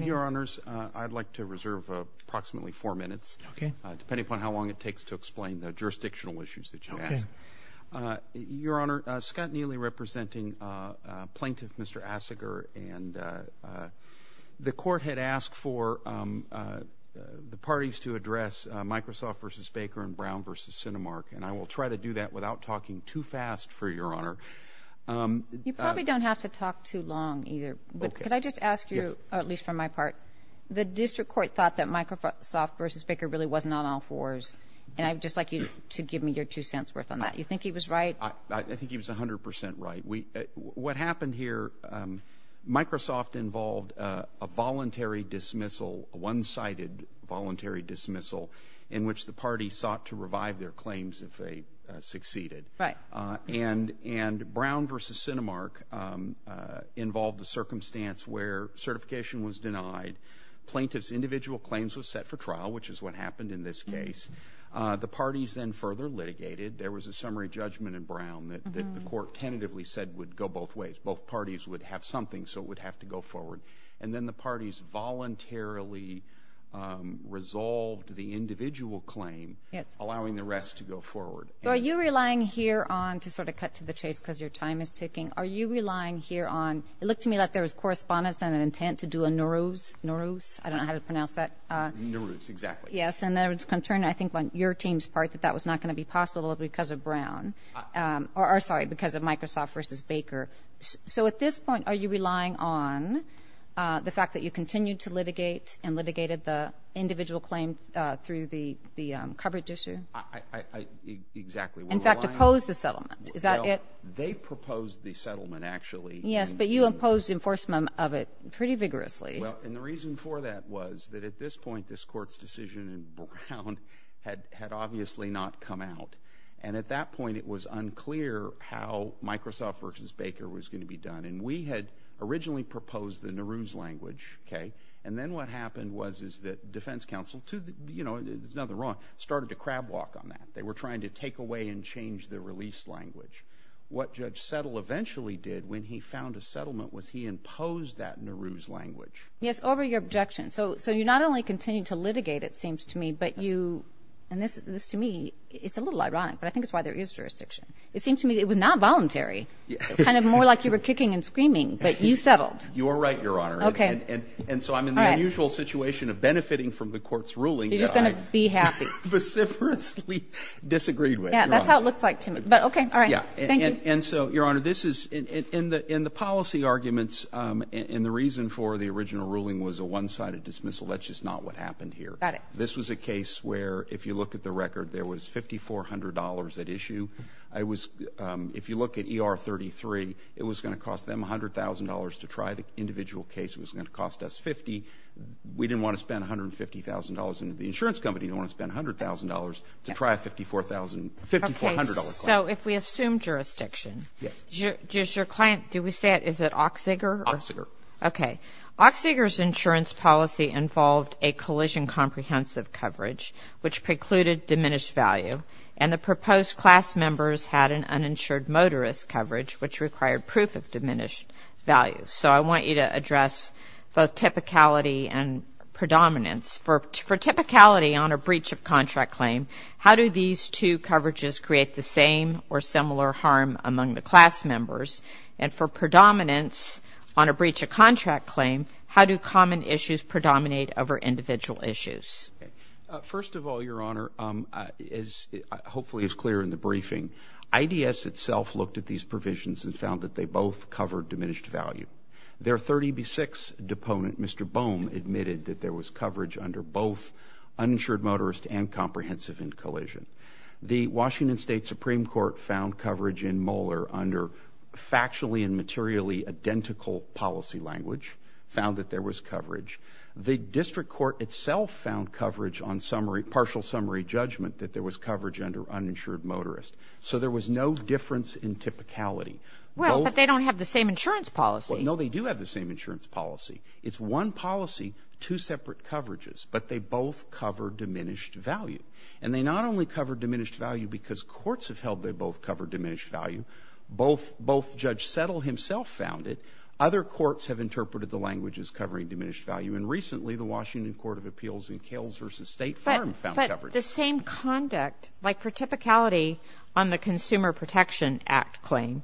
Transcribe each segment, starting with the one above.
Your Honors, I'd like to reserve approximately four minutes, depending upon how long it takes to explain the jurisdictional issues that you asked. Your Honor, Scott Neely representing Plaintiff Mr. Achziger, and the Court had asked for the parties to address Microsoft v. Baker and Brown v. Cinemark, and I will try to do that without talking too fast for Your Honor. You probably don't have to talk too long either, but could I just ask you, at least for my part, the District Court thought that Microsoft v. Baker really was not on all fours, and I'd just like you to give me your two cents worth on that. You think he was right? I think he was 100 percent right. What happened here, Microsoft involved a voluntary dismissal, a one-sided voluntary dismissal, in which the parties sought to revive their claims if they succeeded. And Brown v. Cinemark involved a circumstance where certification was denied, plaintiff's individual claims were set for trial, which is what happened in this case. The parties then further litigated. There was a summary judgment in Brown that the Court tentatively said would go both ways. Both parties would have something, so it would have to go forward. And then the parties voluntarily resolved the individual claim, allowing the rest to go forward. So are you relying here on, to sort of cut to the chase because your time is ticking, are you relying here on, it looked to me like there was correspondence and an intent to do a Norooz, Norooz, I don't know how to pronounce that. Norooz, exactly. Yes, and there was concern, I think on your team's part, that that was not going to be possible because of Brown, or sorry, because of Microsoft v. Baker. So at this point, are you relying on the fact that you continued to litigate and litigated the individual claims through the coverage issue? I, I, I, exactly. In fact, opposed the settlement. Is that it? Well, they proposed the settlement, actually. Yes, but you imposed enforcement of it pretty vigorously. Well, and the reason for that was that at this point, this Court's decision in Brown had obviously not come out. And at that point, it was unclear how Microsoft v. Baker was going to be done. And we had originally proposed the Norooz language, okay, and then what happened was, is that defense counsel, you know, there's nothing wrong, started to crab walk on that. They were trying to take away and change the release language. What Judge Settle eventually did when he found a settlement was he imposed that Norooz language. Yes, over your objection, so, so you not only continued to litigate, it seems to me, but you, and this, this to me, it's a little ironic, but I think it's why there is jurisdiction. It seems to me that it was not voluntary, kind of more like you were kicking and screaming, but you settled. You are right, Your Honor. Okay. And, and, and so I'm in the unusual situation of benefiting from the Court's ruling that I. You're just going to be happy. Veciferously disagreed with, Your Honor. Yeah, that's how it looks like to me. But okay, all right. Yeah. Thank you. And, and, and so, Your Honor, this is, in, in the, in the policy arguments, and the reason for the original ruling was a one-sided dismissal, that's just not what happened here. Got it. This was a case where, if you look at the record, there was $5,400 at issue. I was, if you look at ER 33, it was going to cost them $100,000 to try the individual case. It was going to cost us $50,000. We didn't want to spend $150,000, and the insurance company didn't want to spend $100,000 to try a $54,000, $5,400 client. Okay, so if we assume jurisdiction. Yes. Does your client, do we say it, is it Oxsager? Oxsager. Okay. Oxsager's insurance policy involved a collision-comprehensive coverage, which precluded diminished value, and the proposed class members had an uninsured motorist coverage, which required proof of diminished value. So I want you to address both typicality and predominance. For typicality on a breach of contract claim, how do these two coverages create the same or similar harm among the class members? And for predominance on a breach of contract claim, how do common issues predominate over individual issues? First of all, Your Honor, as hopefully is clear in the briefing, IDS itself looked at these provisions and found that they both covered diminished value. Their 30B6 deponent, Mr. Bohm, admitted that there was coverage under both uninsured motorist and comprehensive end collision. The Washington State Supreme Court found coverage in Moeller under factually and materially identical policy language, found that there was coverage. The district court itself found coverage on partial summary judgment that there was coverage under uninsured motorist. So there was no difference in typicality. Well, but they don't have the same insurance policy. No, they do have the same insurance policy. It's one policy, two separate coverages, but they both cover diminished value. And they not only cover diminished value because courts have held they both cover diminished value, both Judge Settle himself found it, other courts have interpreted the language as covering diminished value. And recently, the Washington Court of Appeals in Kales v. State Farm found coverage. But the same conduct, like for typicality on the Consumer Protection Act claim,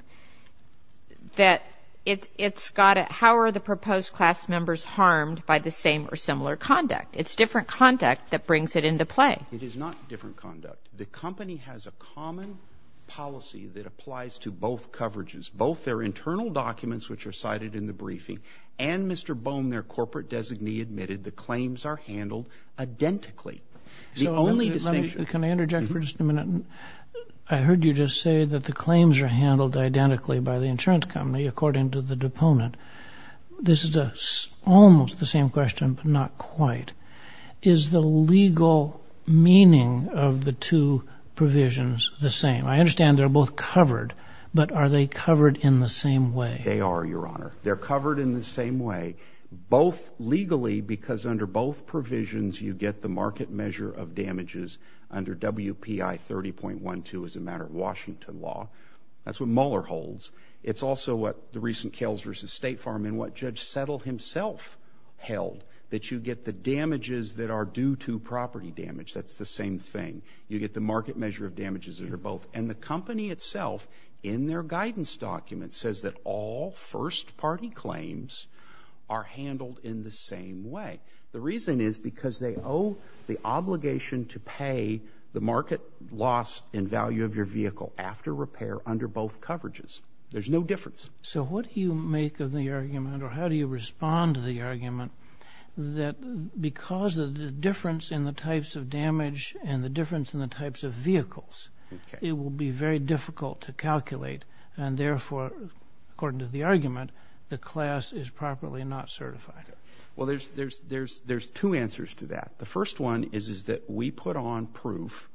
that it's got a, how are the proposed class members harmed by the same or similar conduct? It's different conduct that brings it into play. It is not different conduct. The company has a common policy that applies to both coverages, both their internal documents which are cited in the briefing, and Mr. Bohm, their corporate designee, admitted the claims are handled identically. The only distinction- So let me, can I interject for just a minute? I heard you just say that the claims are handled identically by the insurance company according to the deponent. This is almost the same question, but not quite. Is the legal meaning of the two provisions the same? I understand they're both covered, but are they covered in the same way? They are, Your Honor. They're covered in the same way, both legally because under both provisions you get the market measure of damages under WPI 30.12 as a matter of Washington law. That's what Mueller holds. It's also what the recent Kales v. State Farm and what Judge Settle himself held, that you get the damages that are due to property damage. That's the same thing. You get the market measure of damages that are both. And the company itself in their guidance document says that all first party claims are handled in the same way. The reason is because they owe the obligation to pay the market loss in value of your vehicle after repair under both coverages. There's no difference. So what do you make of the argument or how do you respond to the argument that because of the difference in the types of damage and the difference in the types of vehicles, it will be very difficult to calculate and therefore, according to the argument, the class is properly not certified? Well, there's two answers to that. The first one is that we put on proof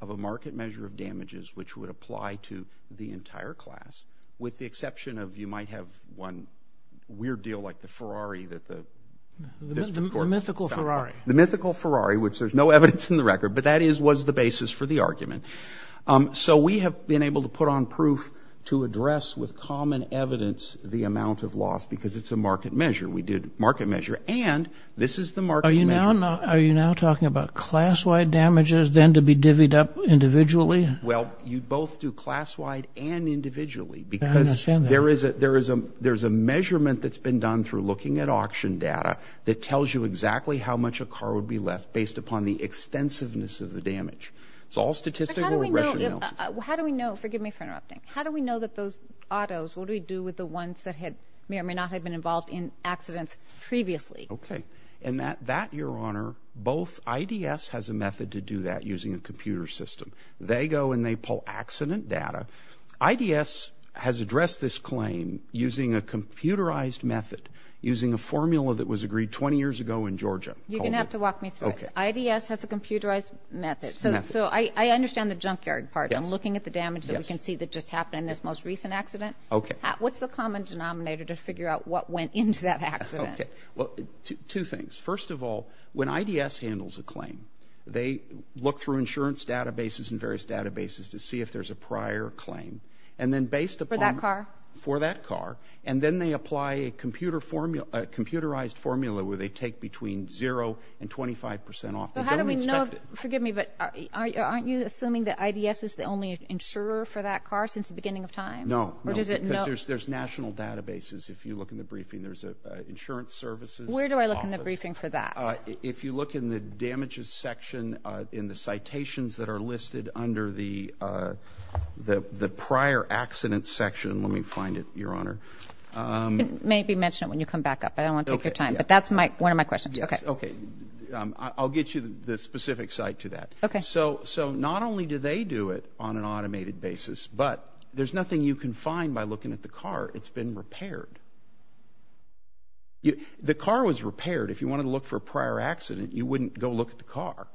of a market measure of damages which would apply to the entire class, with the exception of you might have one weird deal like the Ferrari that the district court found. The mythical Ferrari. The mythical Ferrari, which there's no evidence in the record, but that was the basis for the argument. So we have been able to put on proof to address with common evidence the amount of loss because it's a market measure. We did market measure and this is the market measure. Are you now talking about class-wide damages then to be divvied up individually? Individually? Well, you both do class-wide and individually because there is a measurement that's been done through looking at auction data that tells you exactly how much a car would be left based upon the extensiveness of the damage. It's all statistical. How do we know, forgive me for interrupting, how do we know that those autos, what do we do with the ones that may or may not have been involved in accidents previously? Okay. And that, Your Honor, both IDS has a method to do that using a computer system. They go and they pull accident data. IDS has addressed this claim using a computerized method, using a formula that was agreed 20 years ago in Georgia. You're going to have to walk me through it. Okay. IDS has a computerized method. Method. So I understand the junkyard part. Yes. And looking at the damage that we can see that just happened in this most recent accident. Okay. What's the common denominator to figure out what went into that accident? Okay. Well, two things. First of all, when IDS handles a claim, they look through insurance databases and various databases to see if there's a prior claim. And then based upon- For that car? For that car. And then they apply a computerized formula where they take between zero and 25% off. They don't inspect it. How do we know, forgive me, but aren't you assuming that IDS is the only insurer for that car since the beginning of time? No. No. Or does it- Because there's national databases. If you look in the briefing, there's an insurance services office. Where do I look in the briefing for that? If you look in the damages section in the citations that are listed under the prior accident section, let me find it, Your Honor. Maybe mention it when you come back up. I don't want to take your time. But that's one of my questions. Okay. Yes. Okay. I'll get you the specific site to that. Okay. So not only do they do it on an automated basis, but there's nothing you can find by looking at the car. It's been repaired. The car was repaired. If you wanted to look for a prior accident, you wouldn't go look at the car.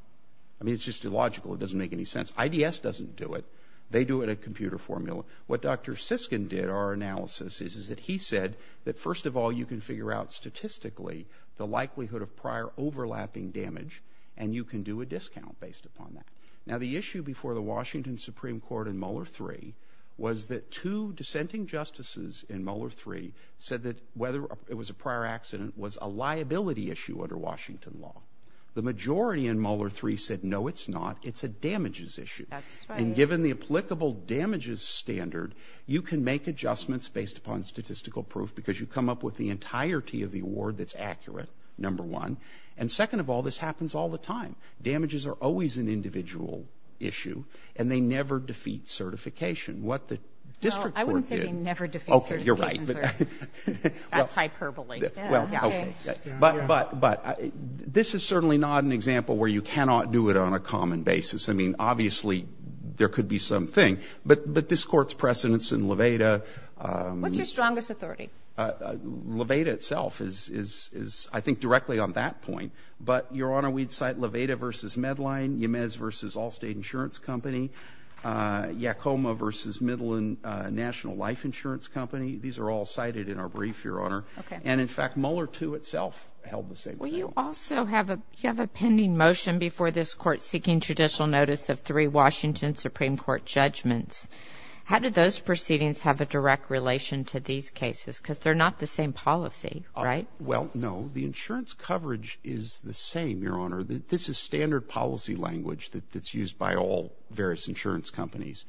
I mean, it's just illogical. It doesn't make any sense. IDS doesn't do it. They do it in a computer formula. What Dr. Siskin did, our analysis is, is that he said that first of all, you can figure out statistically the likelihood of prior overlapping damage, and you can do a discount based upon that. Now, the issue before the Washington Supreme Court in Mueller 3 was that two dissenting justices in Mueller 3 said that whether it was a prior accident was a liability issue under Washington law. The majority in Mueller 3 said, no, it's not. It's a damages issue. That's right. And given the applicable damages standard, you can make adjustments based upon statistical proof because you come up with the entirety of the award that's accurate, number one. And second of all, this happens all the time. Damages are always an individual issue, and they never defeat certification. What the district court did. Well, I wouldn't say they never defeat certification, sir. Okay. You're right. That's hyperbole. Yeah. Yeah. Okay. But, but, but, this is certainly not an example where you cannot do it on a common basis. I mean, obviously, there could be some thing, but, but this Court's precedence in Levada What's your strongest authority? Levada itself is, is, is, I think, directly on that point. But Your Honor, we'd cite Levada v. Medline, Yemez v. Allstate Insurance Company, Yakoma v. Medline National Life Insurance Company. These are all cited in our brief, Your Honor. Okay. And in fact, Mueller too, itself, held the same claim. Well, you also have a, you have a pending motion before this Court seeking judicial notice of three Washington Supreme Court judgments. How did those proceedings have a direct relation to these cases? Because they're not the same policy, right? Well, no. The insurance coverage is the same, Your Honor. The, this is standard policy language that, that's used by all various insurance companies.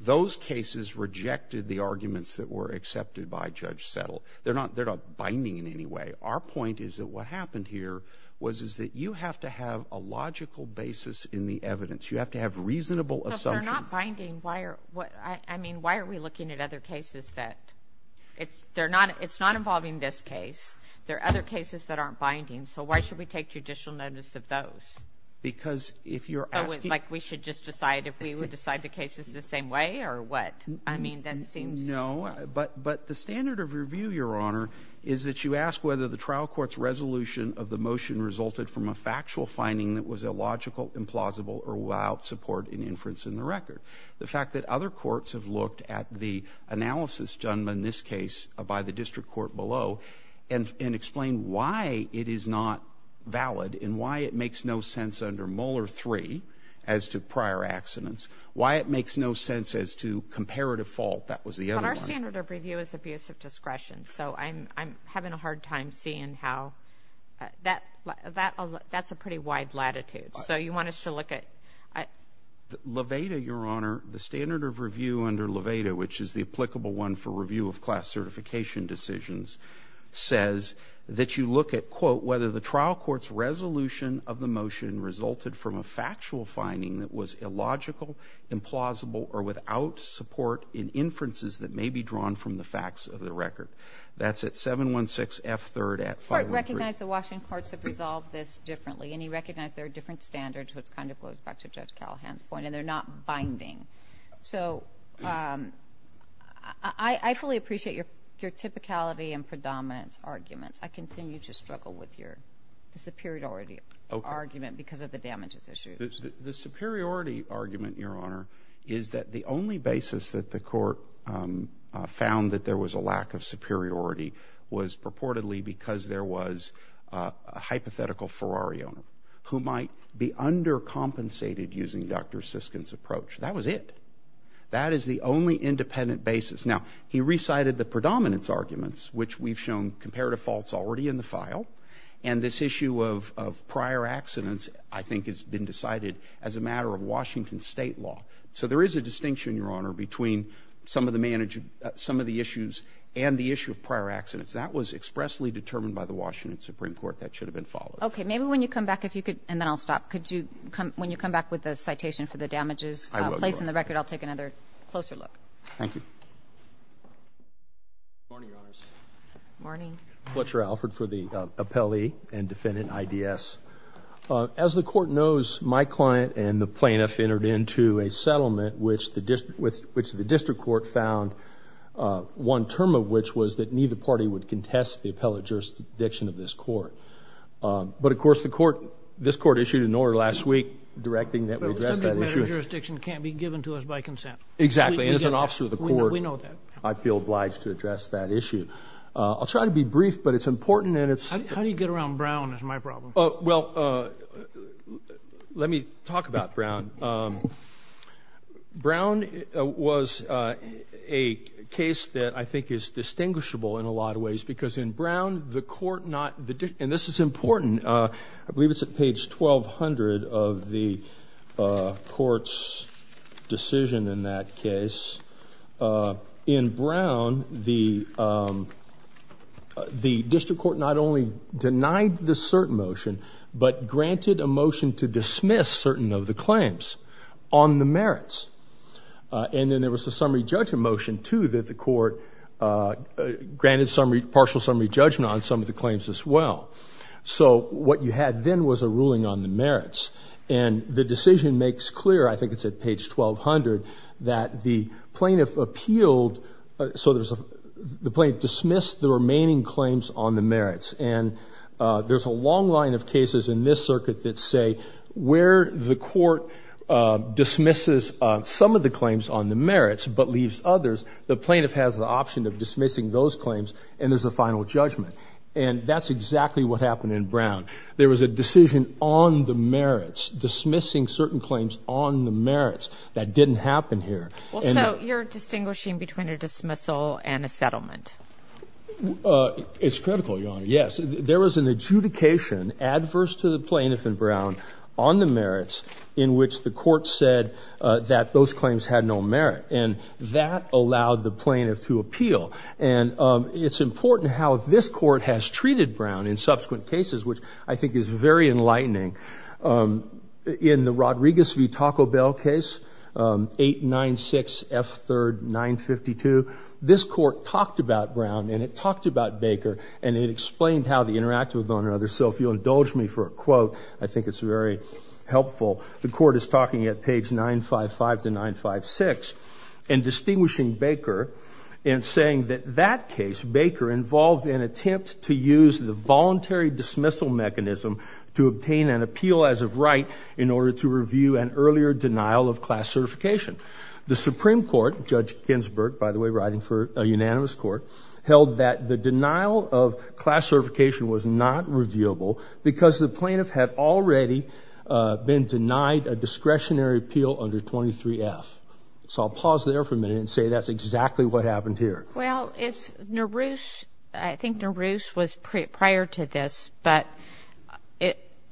Those cases rejected the arguments that were accepted by Judge Settle. They're not, they're not binding in any way. Our point is that what happened here was, is that you have to have a logical basis in the evidence. You have to have reasonable assumptions. Well, if they're not binding, why are, what, I mean, why are we looking at other cases that, it's, they're not, it's not involving this case. There are other cases that aren't binding. So why should we take judicial notice of those? Because if you're asking. So, like, we should just decide if we would decide the cases the same way, or what? I mean, that seems. No, but, but the standard of review, Your Honor, is that you ask whether the trial court's resolution of the motion resulted from a factual finding that was illogical, implausible, or without support in inference in the record. The fact that other courts have looked at the analysis done in this case by the district court below, and, and explain why it is not valid, and why it makes no sense under Muller 3, as to prior accidents. Why it makes no sense as to comparative fault. That was the other one. But our standard of review is abuse of discretion. So I'm, I'm having a hard time seeing how, that, that, that's a pretty wide latitude. So you want us to look at, at. Levada, Your Honor, the standard of review under Levada, which is the applicable one for review of class certification decisions, says that you look at, quote, whether the trial court's resolution of the motion resulted from a factual finding that was illogical, implausible, or without support in inferences that may be drawn from the facts of the record. That's at 716F3rd at 513. The court recognized the Washington courts have resolved this differently, and he recognized there are different standards, which kind of goes back to Judge Callahan's point, and they're not binding. So I, I fully appreciate your, your typicality and predominance arguments. I continue to struggle with your superiority argument because of the damages issues. The superiority argument, Your Honor, is that the only basis that the court found that there was a lack of superiority was purportedly because there was a hypothetical Ferrari owner who might be undercompensated using Dr. Siskin's approach. That was it. That is the only independent basis. Now, he recited the predominance arguments, which we've shown comparative faults already in the file, and this issue of, of prior accidents, I think, has been decided as a matter of Washington state law. So there is a distinction, Your Honor, between some of the management, some of the issues and the issue of prior accidents. That was expressly determined by the Washington Supreme Court. That should have been followed. Okay. Maybe when you come back, if you could, and then I'll stop. Could you come, when you come back with the citation for the damages? I will, Your Honor. Place in the record. I'll take another closer look. Thank you. Good morning, Your Honor. Good morning. Fletcher Alford for the appellee and defendant, IDS. As the court knows, my client and the plaintiff entered into a settlement, which the district court found, one term of which was that neither party would contest the appellate jurisdiction of this court. But, of course, the court, this court issued an order last week directing that we address that issue. The appellate jurisdiction can't be given to us by consent. Exactly. As an officer of the court, I feel obliged to address that issue. I'll try to be brief, but it's important and it's... How do you get around Brown is my problem. Well, let me talk about Brown. Brown was a case that I think is distinguishable in a lot of ways because in Brown, the court not... And this is important. I believe it's at page 1200 of the court's decision in that case. In Brown, the district court not only denied the cert motion, but granted a motion to dismiss certain of the claims on the merits. And then there was a summary judgment motion, too, that the court granted partial summary judgment on some of the claims as well. So, what you had then was a ruling on the merits. And the decision makes clear, I think it's at page 1200, that the plaintiff appealed... So there's a... The plaintiff dismissed the remaining claims on the merits. And there's a long line of cases in this circuit that say where the court dismisses some of the claims on the merits but leaves others, the plaintiff has the option of dismissing those claims and there's a final judgment. And that's exactly what happened in Brown. There was a decision on the merits, dismissing certain claims on the merits that didn't happen here. Well, so you're distinguishing between a dismissal and a settlement? It's critical, Your Honor. Yes. There was an adjudication adverse to the plaintiff in Brown on the merits in which the court said that those claims had no merit. And that allowed the plaintiff to appeal. And it's important how this court has treated Brown in subsequent cases, which I think is very enlightening. In the Rodriguez v. Taco Bell case, 896F3rd952, this court talked about Brown and it talked about Baker and it explained how they interacted with one another. So if you'll indulge me for a quote, I think it's very helpful. The court is talking at page 955 to 956 and distinguishing Baker and saying that that case, Baker, involved an attempt to use the voluntary dismissal mechanism to obtain an appeal as of right in order to review an earlier denial of class certification. The Supreme Court, Judge Ginsburg, by the way, writing for a unanimous court, held that the denial of class certification was not reviewable because the plaintiff had already been denied a discretionary appeal under 23F. So I'll pause there for a minute and say that's exactly what happened here. Well, it's Naruse, I think Naruse was prior to this, but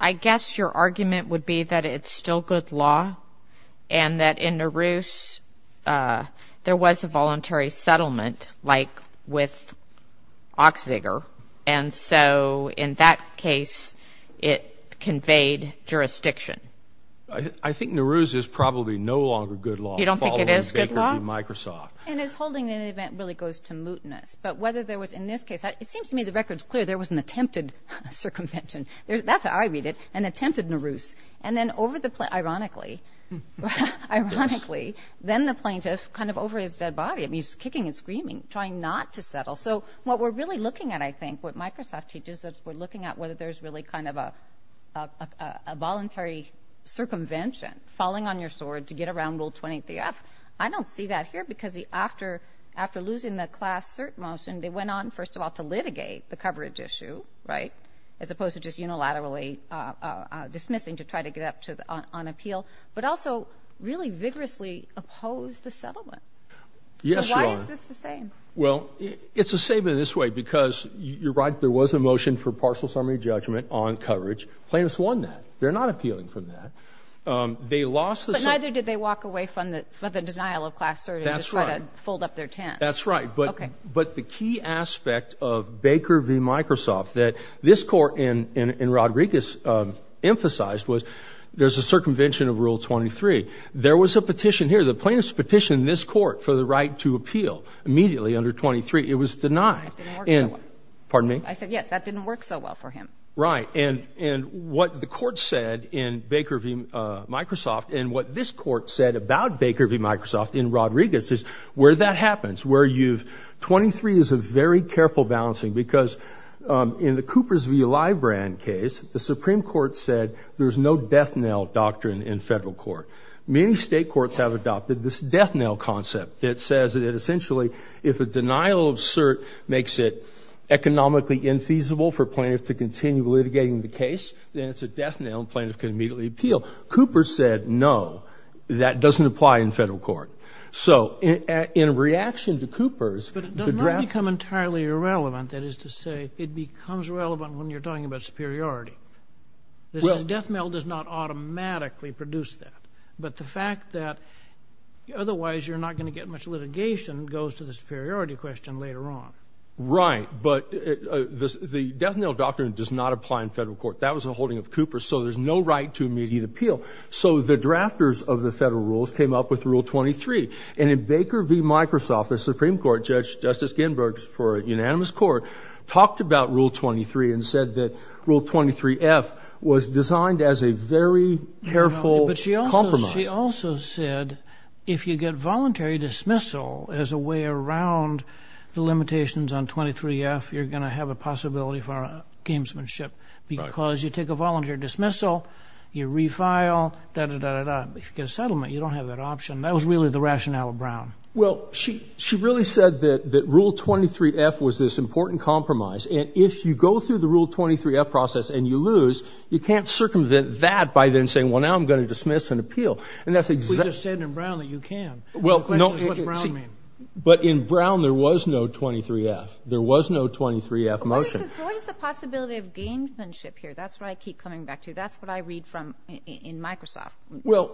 I guess your argument would be that it's still good law and that in Naruse there was a voluntary settlement like with jurisdiction. I think Naruse is probably no longer good law. You don't think it is good law? Following Baker v. Microsoft. And is holding an event really goes to mootness. But whether there was in this case, it seems to me the record's clear. There was an attempted circumvention. That's how I read it, an attempted Naruse. And then over the, ironically, ironically, then the plaintiff kind of over his dead body. I mean, he's kicking and screaming, trying not to settle. So what we're really looking at, I think, what Microsoft teaches us, we're looking at whether there's really kind of a voluntary circumvention falling on your sword to get around Rule 23F. I don't see that here because after losing the class cert motion, they went on, first of all, to litigate the coverage issue, right, as opposed to just unilaterally dismissing to try to get up to on appeal, but also really vigorously oppose the settlement. Yes, you are. Why is this the same? Well, it's the same in this way, because you're right, there was a motion for partial summary judgment on coverage. Plaintiffs won that. They're not appealing from that. They lost. But neither did they walk away from the denial of class cert and just try to fold up their tents. That's right. But the key aspect of Baker v. Microsoft that this court and Rodriguez emphasized was there's a circumvention of Rule 23. There was a petition here, the plaintiff's petition, this court, for the right to appeal immediately under 23. It was denied. Pardon me? I said, yes, that didn't work so well for him. Right. And what the court said in Baker v. Microsoft and what this court said about Baker v. Microsoft in Rodriguez is where that happens, where you've 23 is a very careful balancing because in the Cooper's v. Libran case, the Supreme Court said there's no death knell doctrine in federal court. Many state courts have adopted this death knell concept that says that essentially if a death knell is deemed to be infeasible for plaintiff to continue litigating the case, then it's a death knell and plaintiff can immediately appeal. Cooper said, no, that doesn't apply in federal court. So in reaction to Cooper's. But it does not become entirely irrelevant. That is to say, it becomes relevant when you're talking about superiority. This death knell does not automatically produce that. But the fact that otherwise you're not going to get much litigation goes to the superiority question later on. Right. But the death knell doctrine does not apply in federal court. That was a holding of Cooper. So there's no right to immediate appeal. So the drafters of the federal rules came up with Rule 23. And in Baker v. Microsoft, the Supreme Court judge, Justice Ginsburg, for a unanimous court, talked about Rule 23 and said that Rule 23 F was designed as a very careful. But she also she also said, if you get voluntary dismissal as a way around the 23 F, you're going to have a possibility for gamesmanship because you take a volunteer dismissal, you refile, you get a settlement. You don't have that option. That was really the rationale of Brown. Well, she she really said that that Rule 23 F was this important compromise. And if you go through the Rule 23 F process and you lose, you can't circumvent that by then saying, well, now I'm going to dismiss and appeal. And that's exactly what you said in Brown that you can. Well, no, but in Brown, there was no 23 F. There was no 23 F motion. What is the possibility of gamesmanship here? That's what I keep coming back to. That's what I read from in Microsoft,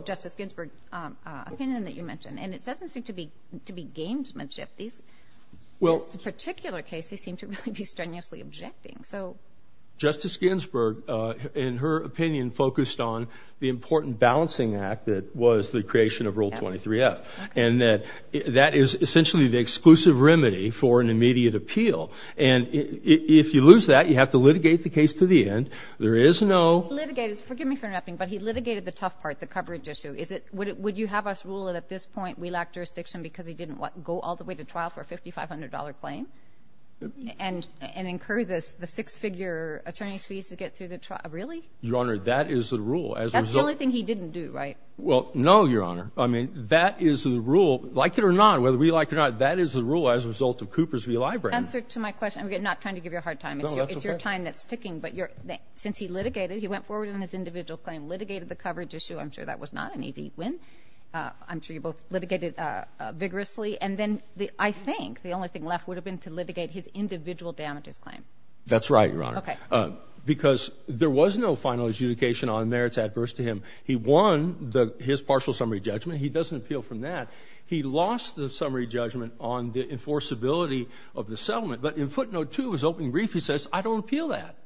Justice Ginsburg opinion that you mentioned. And it doesn't seem to be to be gamesmanship. These well, it's a particular case. They seem to really be strenuously objecting. So Justice Ginsburg, in her opinion, focused on the important balancing act that was the creation of Rule 23 F and that that is essentially the exclusive remedy for an immediate appeal. And if you lose that, you have to litigate the case to the end. There is no litigators. Forgive me for nothing, but he litigated the tough part, the coverage issue. Is it would you have us rule it at this point? We lack jurisdiction because he didn't want to go all the way to trial for a fifty five hundred dollar claim and and incur this the six figure attorney's fees to get through the trial. Really? Your Honor, that is the rule. As a result, I think he didn't do right. Well, no, Your Honor. I mean, that is the rule, like it or not, whether we like it or not, that is the rule as a result of Cooper's v. Library. Answer to my question. I'm not trying to give you a hard time. It's your time that's ticking. But since he litigated, he went forward in his individual claim, litigated the coverage issue. I'm sure that was not an easy win. I'm sure you both litigated vigorously. And then I think the only thing left would have been to litigate his individual damages claim. That's right, Your Honor, because there was no final adjudication on merits adverse to him. He won his partial summary judgment. He doesn't appeal from that. He lost the summary judgment on the enforceability of the settlement. But in footnote two, his opening brief, he says, I don't appeal that.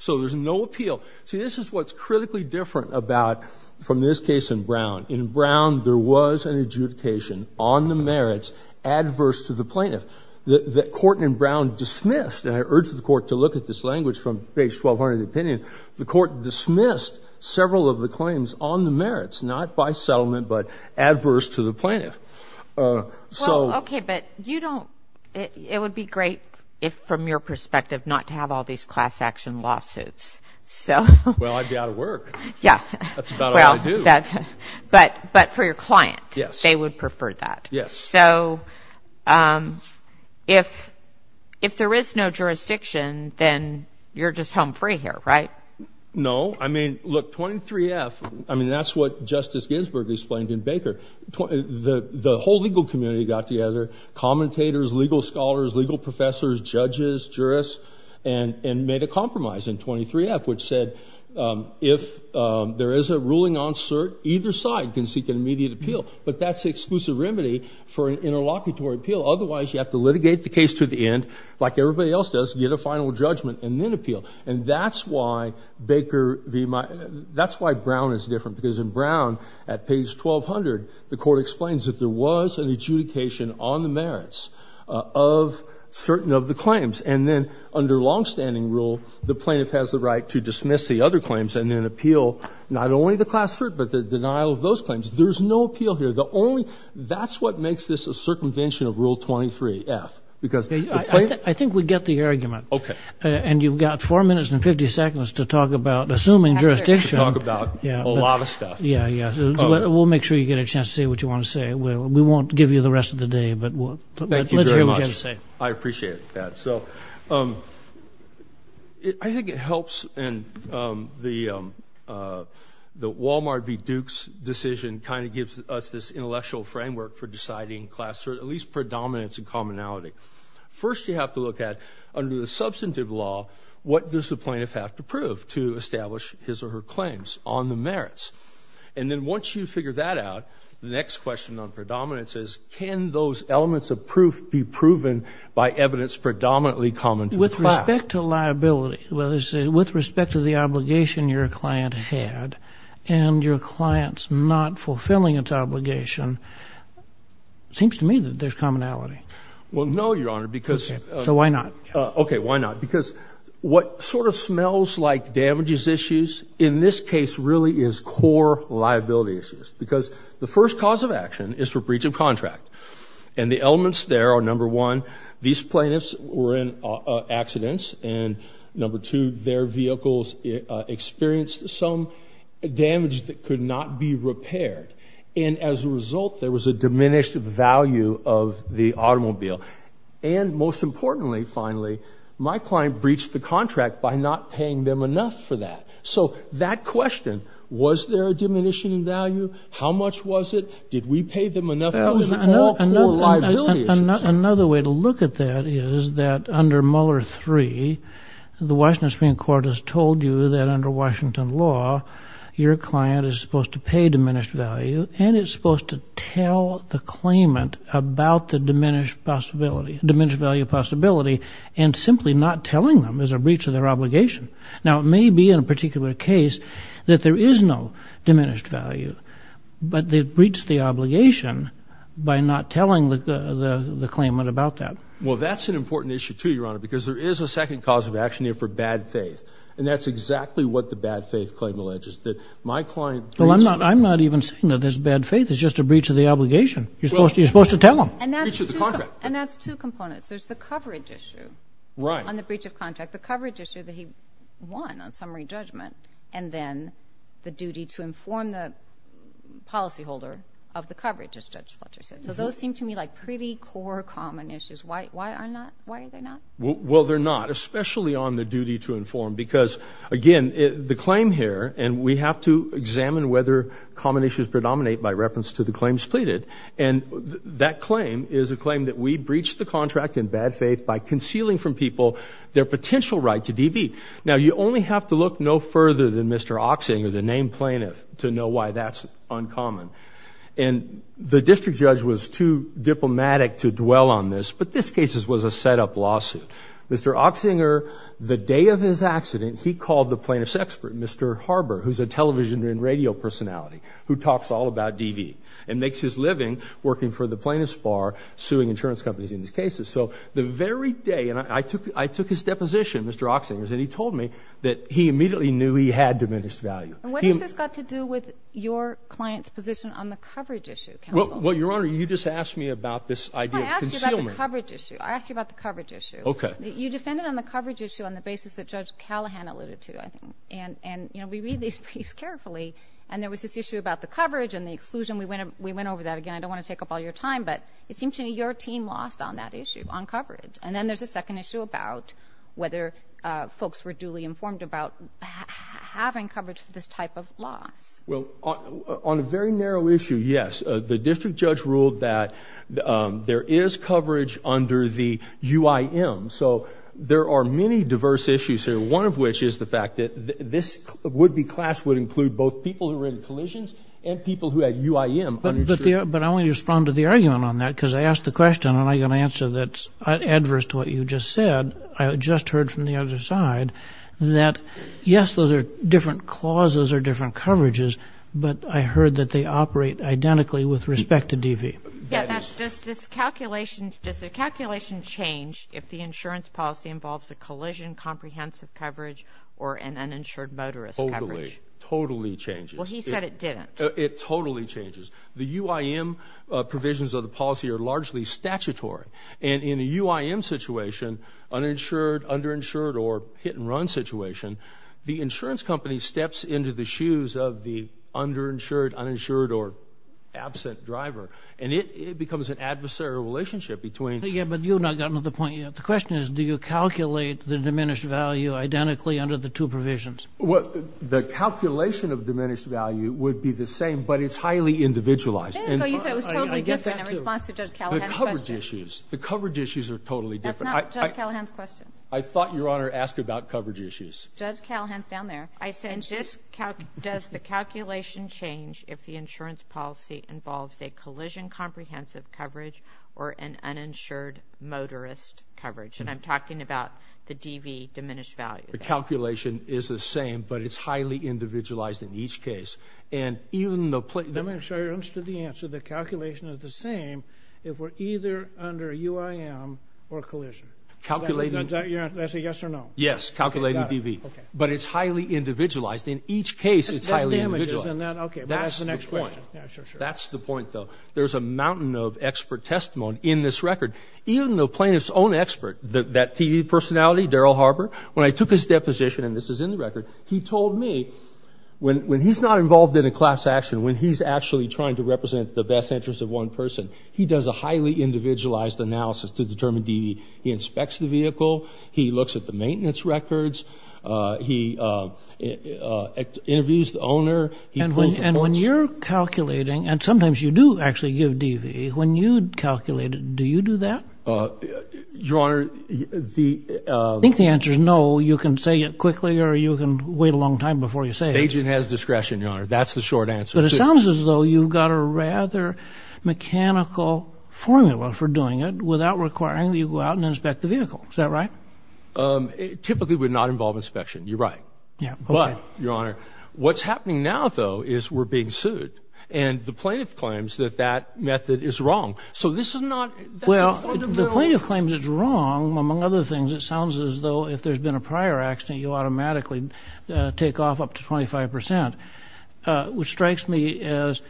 So there's no appeal. See, this is what's critically different about from this case in Brown. In Brown, there was an adjudication on the merits adverse to the plaintiff. The court in Brown dismissed, and I urge the court to look at this language from page 1200 of the opinion, the court dismissed several of the claims on the merits, not by settlement, but adverse to the plaintiff. So, OK, but you don't it would be great if from your perspective not to have all these class action lawsuits. So, well, I'd be out of work. Yeah, that's about well, that's but but for your client, yes, they would prefer that. Yes. So if if there is no jurisdiction, then you're just home free here, right? No, I mean, look, 23 F. I mean, that's what Justice Ginsburg explained in Baker. The whole legal community got together, commentators, legal scholars, legal professors, judges, jurists, and made a compromise in 23 F, which said if there is a ruling on cert, either side can seek an immediate appeal. But that's the exclusive remedy for an interlocutory appeal. Otherwise, you have to litigate the case to the end like everybody else does. Get a final judgment and then appeal. And that's why Baker v. Because in Brown, at page 1200, the court explains that there was an adjudication on the merits of certain of the claims. And then under longstanding rule, the plaintiff has the right to dismiss the other claims and then appeal not only the class cert, but the denial of those claims. There's no appeal here. The only that's what makes this a circumvention of rule 23 F, because I think we get the argument. OK, and you've got four minutes and 50 seconds to talk about assuming jurisdiction. Talk about a lot of stuff. Yeah, yeah. We'll make sure you get a chance to say what you want to say. Well, we won't give you the rest of the day, but let's hear what you have to say. I appreciate that. So I think it helps. And the Wal-Mart v. Duke's decision kind of gives us this intellectual framework for deciding class cert, at least predominance and commonality. First, you have to look at under the substantive law. What does the plaintiff have to prove to establish his or her claims on the merits? And then once you figure that out, the next question on predominance is, can those elements of proof be proven by evidence predominantly common with respect to liability, whether it's with respect to the obligation your client had and your client's not fulfilling its obligation? Seems to me that there's commonality. Well, no, Your Honor, because so why not? OK, why not? Because what sort of smells like damages issues in this case really is core liability issues, because the first cause of action is for breach of contract. And the elements there are, number one, these plaintiffs were in accidents and number two, their vehicles experienced some damage that could not be repaired. And as a result, there was a diminished value of the automobile. And most importantly, finally, my client breached the contract by not paying them enough for that. So that question, was there a diminishing value? How much was it? Did we pay them enough? Another way to look at that is that under Mueller three, the Washington Supreme Court has told you that under Washington law, your client is supposed to pay diminished value and it's supposed to tell the claimant about the diminished possibility, diminished value possibility and simply not telling them as a breach of their obligation. Now, it may be in a particular case that there is no diminished value, but they've breached the obligation by not telling the claimant about that. Well, that's an important issue, too, Your Honor, because there is a second cause of action here for bad faith. And that's exactly what the bad faith claim alleges that my client. Well, I'm not I'm not even saying that there's bad faith. It's just a breach of the obligation. You're supposed to you're supposed to tell them. And that's two components. There's the coverage issue on the breach of contract, the coverage issue that he won on summary judgment, and then the duty to inform the policyholder of the coverage, as Judge Fletcher said. So those seem to me like pretty core common issues. Why are not? Why are they not? Well, they're not, especially on the duty to inform, because, again, the claim here and we have to examine whether common issues predominate by reference to the claims pleaded. And that claim is a claim that we breached the contract in bad faith by concealing from people their potential right to DV. Now, you only have to look no further than Mr. Ochsinger, the named plaintiff, to know why that's uncommon. And the district judge was too diplomatic to dwell on this. But this case was a setup lawsuit. Mr. Ochsinger, the day of his accident, he called the plaintiff's expert, Mr. Harbour, who's a television and radio personality who talks all about DV. And makes his living working for the plaintiff's bar, suing insurance companies in these cases. So the very day, and I took, I took his deposition, Mr. Ochsinger's, and he told me that he immediately knew he had diminished value. And what has this got to do with your client's position on the coverage issue, counsel? Well, Your Honor, you just asked me about this idea of concealment. No, I asked you about the coverage issue. I asked you about the coverage issue. Okay. You defended on the coverage issue on the basis that Judge Callahan alluded to, I think. And, and, you know, we read these briefs carefully and there was this issue about the coverage and the exclusion. We went, we went over that again. I don't want to take up all your time, but it seems to me your team lost on that issue, on coverage. And then there's a second issue about whether folks were duly informed about having coverage for this type of loss. Well, on a very narrow issue, yes. The district judge ruled that there is coverage under the UIM. So there are many diverse issues here. One of which is the fact that this would be class would include both people who had uninsured collisions and people who had UIM uninsured. But, but I want you to respond to the argument on that because I asked the question and I'm going to answer that adverse to what you just said. I just heard from the other side that yes, those are different clauses or different coverages, but I heard that they operate identically with respect to DV. Yeah, that's just this calculation. Does the calculation change if the insurance policy involves a collision, comprehensive coverage, or an uninsured motorist coverage? Totally changes. Well, he said it didn't. It totally changes. The UIM provisions of the policy are largely statutory. And in a UIM situation, uninsured, underinsured, or hit and run situation, the insurance company steps into the shoes of the underinsured, uninsured, or absent driver, and it becomes an adversarial relationship between. Yeah, but you've not gotten to the point yet. The question is, do you calculate the diminished value identically under the two provisions? Well, the calculation of diminished value would be the same, but it's highly individualized. You said it was totally different in response to Judge Callahan's question. The coverage issues. The coverage issues are totally different. That's not Judge Callahan's question. I thought Your Honor asked about coverage issues. Judge Callahan's down there. I said, does the calculation change if the insurance policy involves a collision, comprehensive coverage, or an uninsured motorist coverage? And I'm talking about the DV diminished value. The calculation is the same, but it's highly individualized in each case. And even though plaintiff... Let me make sure you understood the answer. The calculation is the same if we're either under a UIM or a collision. Calculating... That's a yes or no? Yes. Calculating DV. Okay. But it's highly individualized. In each case, it's highly individualized. Okay. That's the next question. Yeah, sure, sure. That's the point, though. There's a mountain of expert testimony in this record. Even though plaintiff's own expert, that TV personality, Daryl Harbour, when I took his deposition, and this is in the record, he told me when he's not involved in a class action, when he's actually trying to represent the best interest of one person, he does a highly individualized analysis to determine DV. He inspects the vehicle. He looks at the maintenance records. He interviews the owner. And when you're calculating, and sometimes you do actually give DV, when you calculate it, do you do that? Your Honor, the... If there's no, you can say it quickly, or you can wait a long time before you say it. Agent has discretion, Your Honor. That's the short answer. But it sounds as though you've got a rather mechanical formula for doing it without requiring that you go out and inspect the vehicle. Is that right? Typically, it would not involve inspection. You're right. Yeah. But, Your Honor, what's happening now, though, is we're being sued. And the plaintiff claims that that method is wrong. So this is not... Well, the plaintiff claims it's wrong. Among other things, it sounds as though if there's been a prior accident, you automatically take off up to 25%, which strikes me as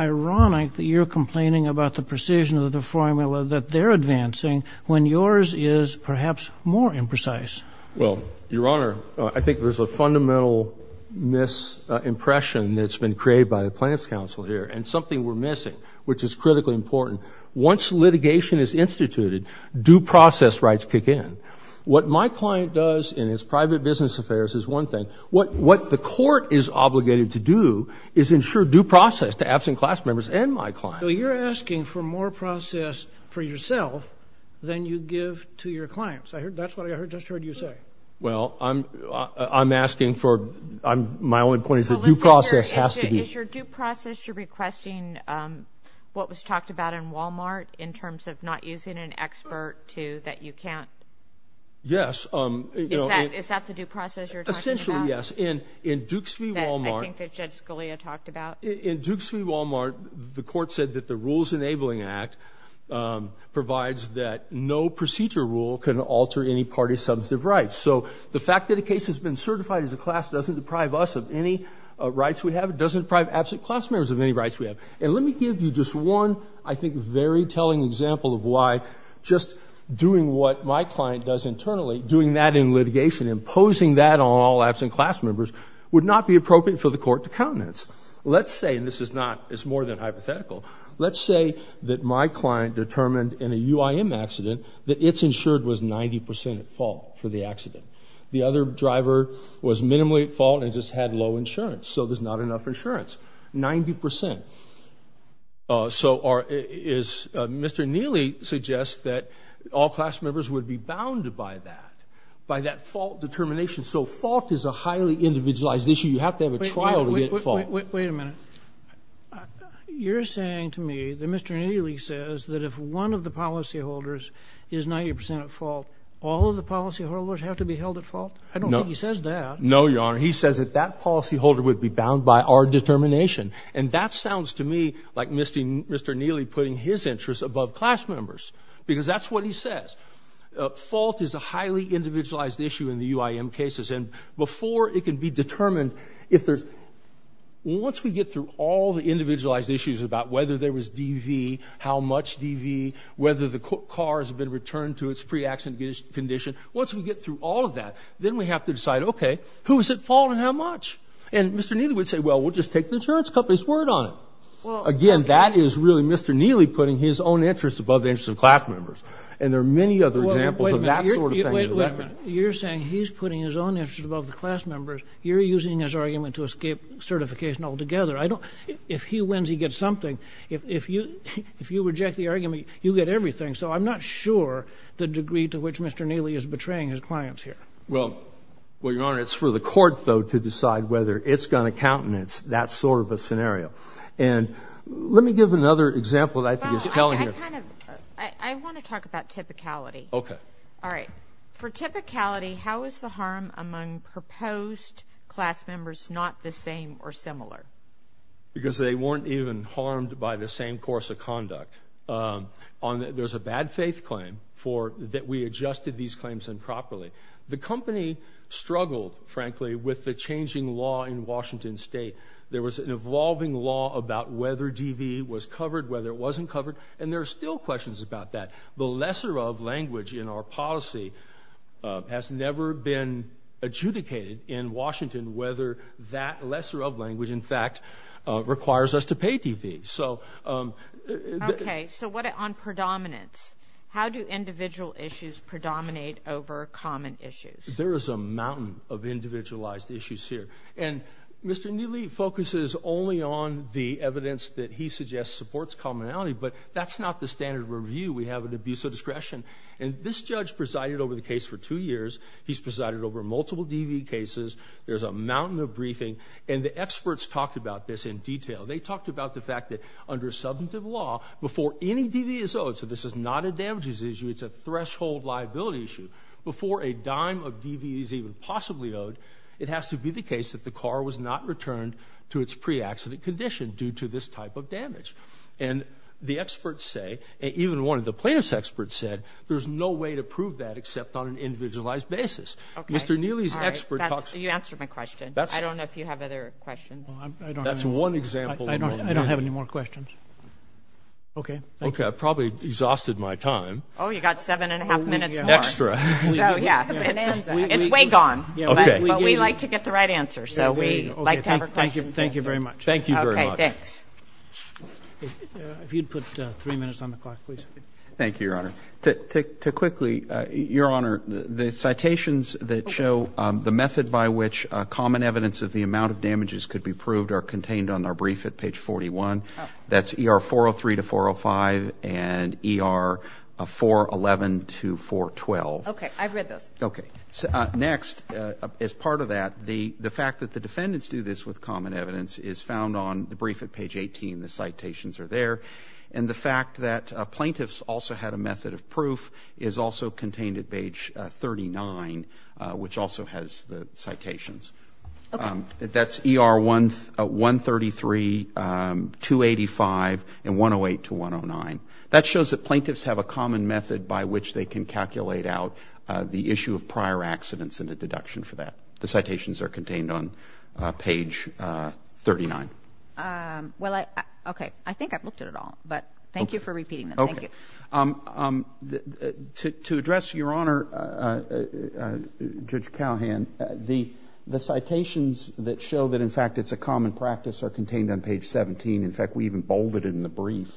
ironic that you're complaining about the precision of the formula that they're advancing when yours is perhaps more imprecise. Well, Your Honor, I think there's a fundamental misimpression that's been created by the Plaintiff's Counsel here, and something we're missing, which is critically important. Once litigation is instituted, due process rights kick in. What my client does in his private business affairs is one thing. What the court is obligated to do is ensure due process to absent class members and my client. So you're asking for more process for yourself than you give to your clients. I heard... That's what I just heard you say. Well, I'm asking for... My only point is that due process has to be... Is your due process, you're requesting what was talked about in Walmart in terms of not using an expert to that you can't? Yes. Is that the due process you're talking about? Essentially, yes. In Dukes v. Walmart... I think that Judge Scalia talked about. In Dukes v. Walmart, the court said that the Rules Enabling Act provides that no procedure rule can alter any party's substantive rights. So the fact that a case has been certified as a class doesn't deprive us of any rights we have. It doesn't deprive absent class members of any rights we have. And let me give you just one, I think, very telling example of why just doing what my client does internally, doing that in litigation, imposing that on all absent class members would not be appropriate for the court to countenance. Let's say, and this is not, it's more than hypothetical. Let's say that my client determined in a UIM accident that it's insured was 90% at fault for the accident. The other driver was minimally at fault and just had low insurance. So there's not enough insurance. 90%. Uh, so are, is, uh, Mr. Neely suggests that all class members would be bound by that, by that fault determination. So fault is a highly individualized issue. You have to have a trial to get fault. Wait a minute. You're saying to me that Mr. Neely says that if one of the policyholders is 90% at fault, all of the I don't think he says that. No, Your Honor. He says that that policyholder would be bound by our determination. And that sounds to me like Mr. Neely putting his interests above class members, because that's what he says. Uh, fault is a highly individualized issue in the UIM cases. And before it can be determined if there's, once we get through all the individualized issues about whether there was DV, how much DV, whether the car has been returned to its pre-accident condition, once we get through all of that, then we have to decide, okay, who's at fault and how much? And Mr. Neely would say, well, we'll just take the insurance company's word on it. Well, again, that is really Mr. Neely putting his own interests above the interests of class members. And there are many other examples of that sort of thing. You're saying he's putting his own interests above the class members. You're using his argument to escape certification altogether. I don't, if he wins, he gets something. If, if you, if you reject the argument, you get everything. So I'm not sure the degree to which Mr. Neely is betraying his clients here. Well, well, Your Honor, it's for the court though, to decide whether it's going to countenance that sort of a scenario. And let me give another example that I think is telling you. I want to talk about typicality. Okay. All right. For typicality, how is the harm among proposed class members, not the same or similar? Because they weren't even harmed by the same course of conduct. Um, on the, there's a bad faith claim for that. We adjusted these claims improperly. The company struggled, frankly, with the changing law in Washington state. There was an evolving law about whether DV was covered, whether it wasn't covered. And there are still questions about that. The lesser of language in our policy, uh, has never been adjudicated in Washington, whether that lesser of language in fact, uh, requires us to pay DV. So, um, Okay. So what, on predominance, how do individual issues predominate over common issues? There is a mountain of individualized issues here. And Mr. Newley focuses only on the evidence that he suggests supports commonality, but that's not the standard review. We have an abuse of discretion. And this judge presided over the case for two years. He's presided over multiple DV cases. There's a mountain of briefing and the experts talked about this in detail. They talked about the fact that under a substantive law before any DV is owed. So this is not a damages issue. It's a threshold liability issue. Before a dime of DV is even possibly owed. It has to be the case that the car was not returned to its pre-accident condition due to this type of damage. And the experts say, even one of the plaintiff's experts said, there's no way to prove that except on an individualized basis, Mr. Newley's expert talks. You answered my question. I don't know if you have other questions. That's one example. I don't, I don't have any more questions. Okay. Okay. I probably exhausted my time. Oh, you got seven and a half minutes. Extra. So yeah, it's way gone, but we like to get the right answer. So we like to have a question. Thank you very much. Thank you very much. If you'd put three minutes on the clock, please. Thank you, Your Honor. To quickly, Your Honor, the citations that show the method by which common evidence of the amount of damages could be proved are contained on our brief at page 41, that's ER 403 to 405 and ER 411 to 412. Okay. I've read those. Okay. So next, as part of that, the, the fact that the defendants do this with common evidence is found on the brief at page 18, the citations are there. And the fact that plaintiffs also had a method of proof is also contained at page 39, which also has the citations. Okay. That's ER 133, 285 and 108 to 109. That shows that plaintiffs have a common method by which they can calculate out the issue of prior accidents and a deduction for that. The citations are contained on page 39. Well, I, okay. I think I've looked at it all, but thank you for repeating them. Thank you. To address, Your Honor, Judge Callahan, the, the citations that show that in fact, it's a common practice are contained on page 17. In fact, we even bolded it in the brief.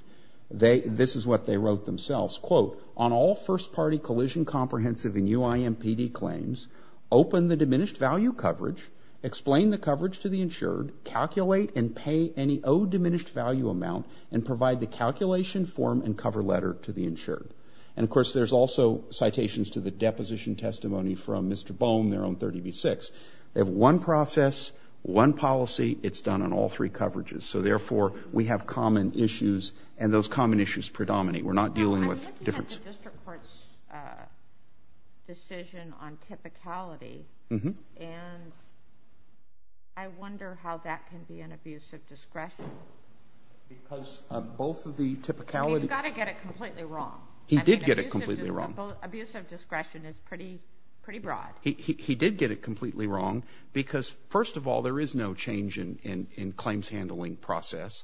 They, this is what they wrote themselves. On all first party collision, comprehensive and UIMPD claims, open the diminished value coverage, explain the coverage to the insured, calculate and pay any O diminished value amount and provide the calculation form and cover letter to the insured. And of course, there's also citations to the deposition testimony from Mr. Bone, their own 30B6. They have one process, one policy it's done on all three coverages. So therefore we have common issues and those common issues predominate. We're not dealing with difference. I'm looking at the district court's decision on typicality and I wonder how that can be an abuse of discretion because of both of the typicality. You've got to get it completely wrong. He did get it completely wrong. Abuse of discretion is pretty, pretty broad. He, he, he did get it completely wrong because first of all, there is no change in, in, in claims handling process.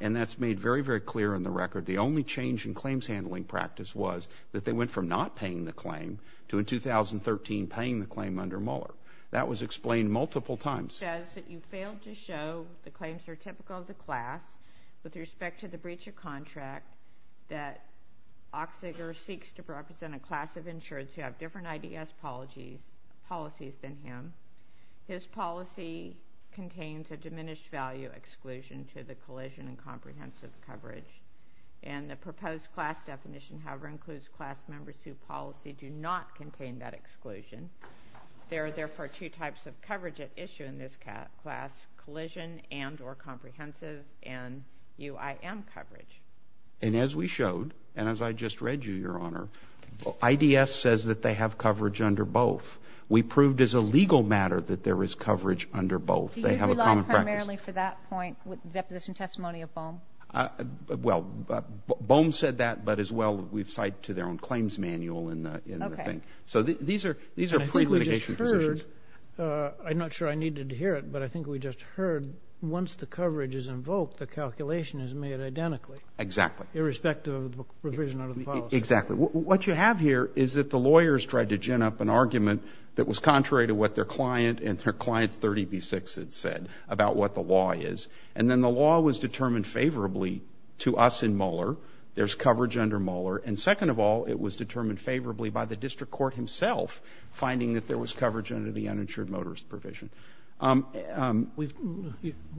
And that's made very, very clear in the record. The only change in claims handling practice was that they went from not paying the claim to in 2013, paying the claim under Mueller. That was explained multiple times. Says that you failed to show the claims are typical of the class with respect to the breach of contract that Oxigar seeks to represent a class of insureds who have different IDS policies than him. His policy contains a diminished value exclusion to the collision and comprehensive coverage. And the proposed class definition, however, includes class members who policy do not contain that exclusion. There are therefore two types of coverage at issue in this class, collision and or comprehensive and UIM coverage. And as we showed, and as I just read you, your honor, IDS says that they have coverage under both. We proved as a legal matter that there is coverage under both. They have a common practice. Do you rely primarily for that point with deposition testimony of Boehm? Well, but Boehm said that, but as well, we've cited to their own claims manual in the thing. So these are, these are pre-litigation positions. Uh, I'm not sure I needed to hear it, but I think we just heard once the coverage is invoked, the calculation is made identically, irrespective of the revision of the policy. Exactly. What you have here is that the lawyers tried to gin up an argument that was contrary to what their client and their client 30B6 had said about what the law is, and then the law was determined favorably to us in Mueller. There's coverage under Mueller. And second of all, it was determined favorably by the district court himself, finding that there was coverage under the uninsured motorist provision. Um, um, we've,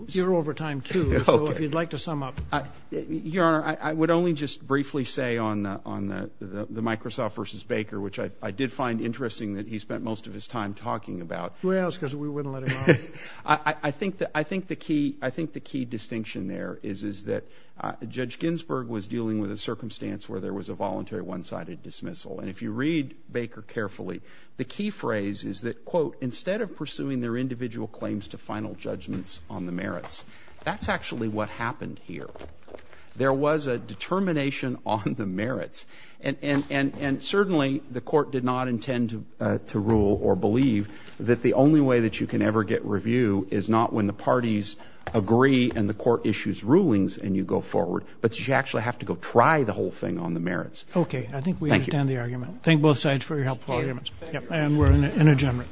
you're over time too. So if you'd like to sum up, your honor, I would only just briefly say on the, on the, the, the Microsoft versus Baker, which I did find interesting that he spent most of his time talking about, I think that I think the key distinction there is, is that judge Ginsburg was dealing with a circumstance where there was a voluntary one-sided dismissal. And if you read Baker carefully, the key phrase is that quote, instead of pursuing their individual claims to final judgments on the merits, that's actually what happened here. There was a determination on the merits and, and, and, and certainly the court did not intend to, uh, to rule or believe that the only way that you can ever get review is not when the parties agree and the court issues rulings and you go forward, but you actually have to go try the whole thing on the merits. Okay. I think we understand the argument. Thank both sides for your helpful arguments and we're in a general.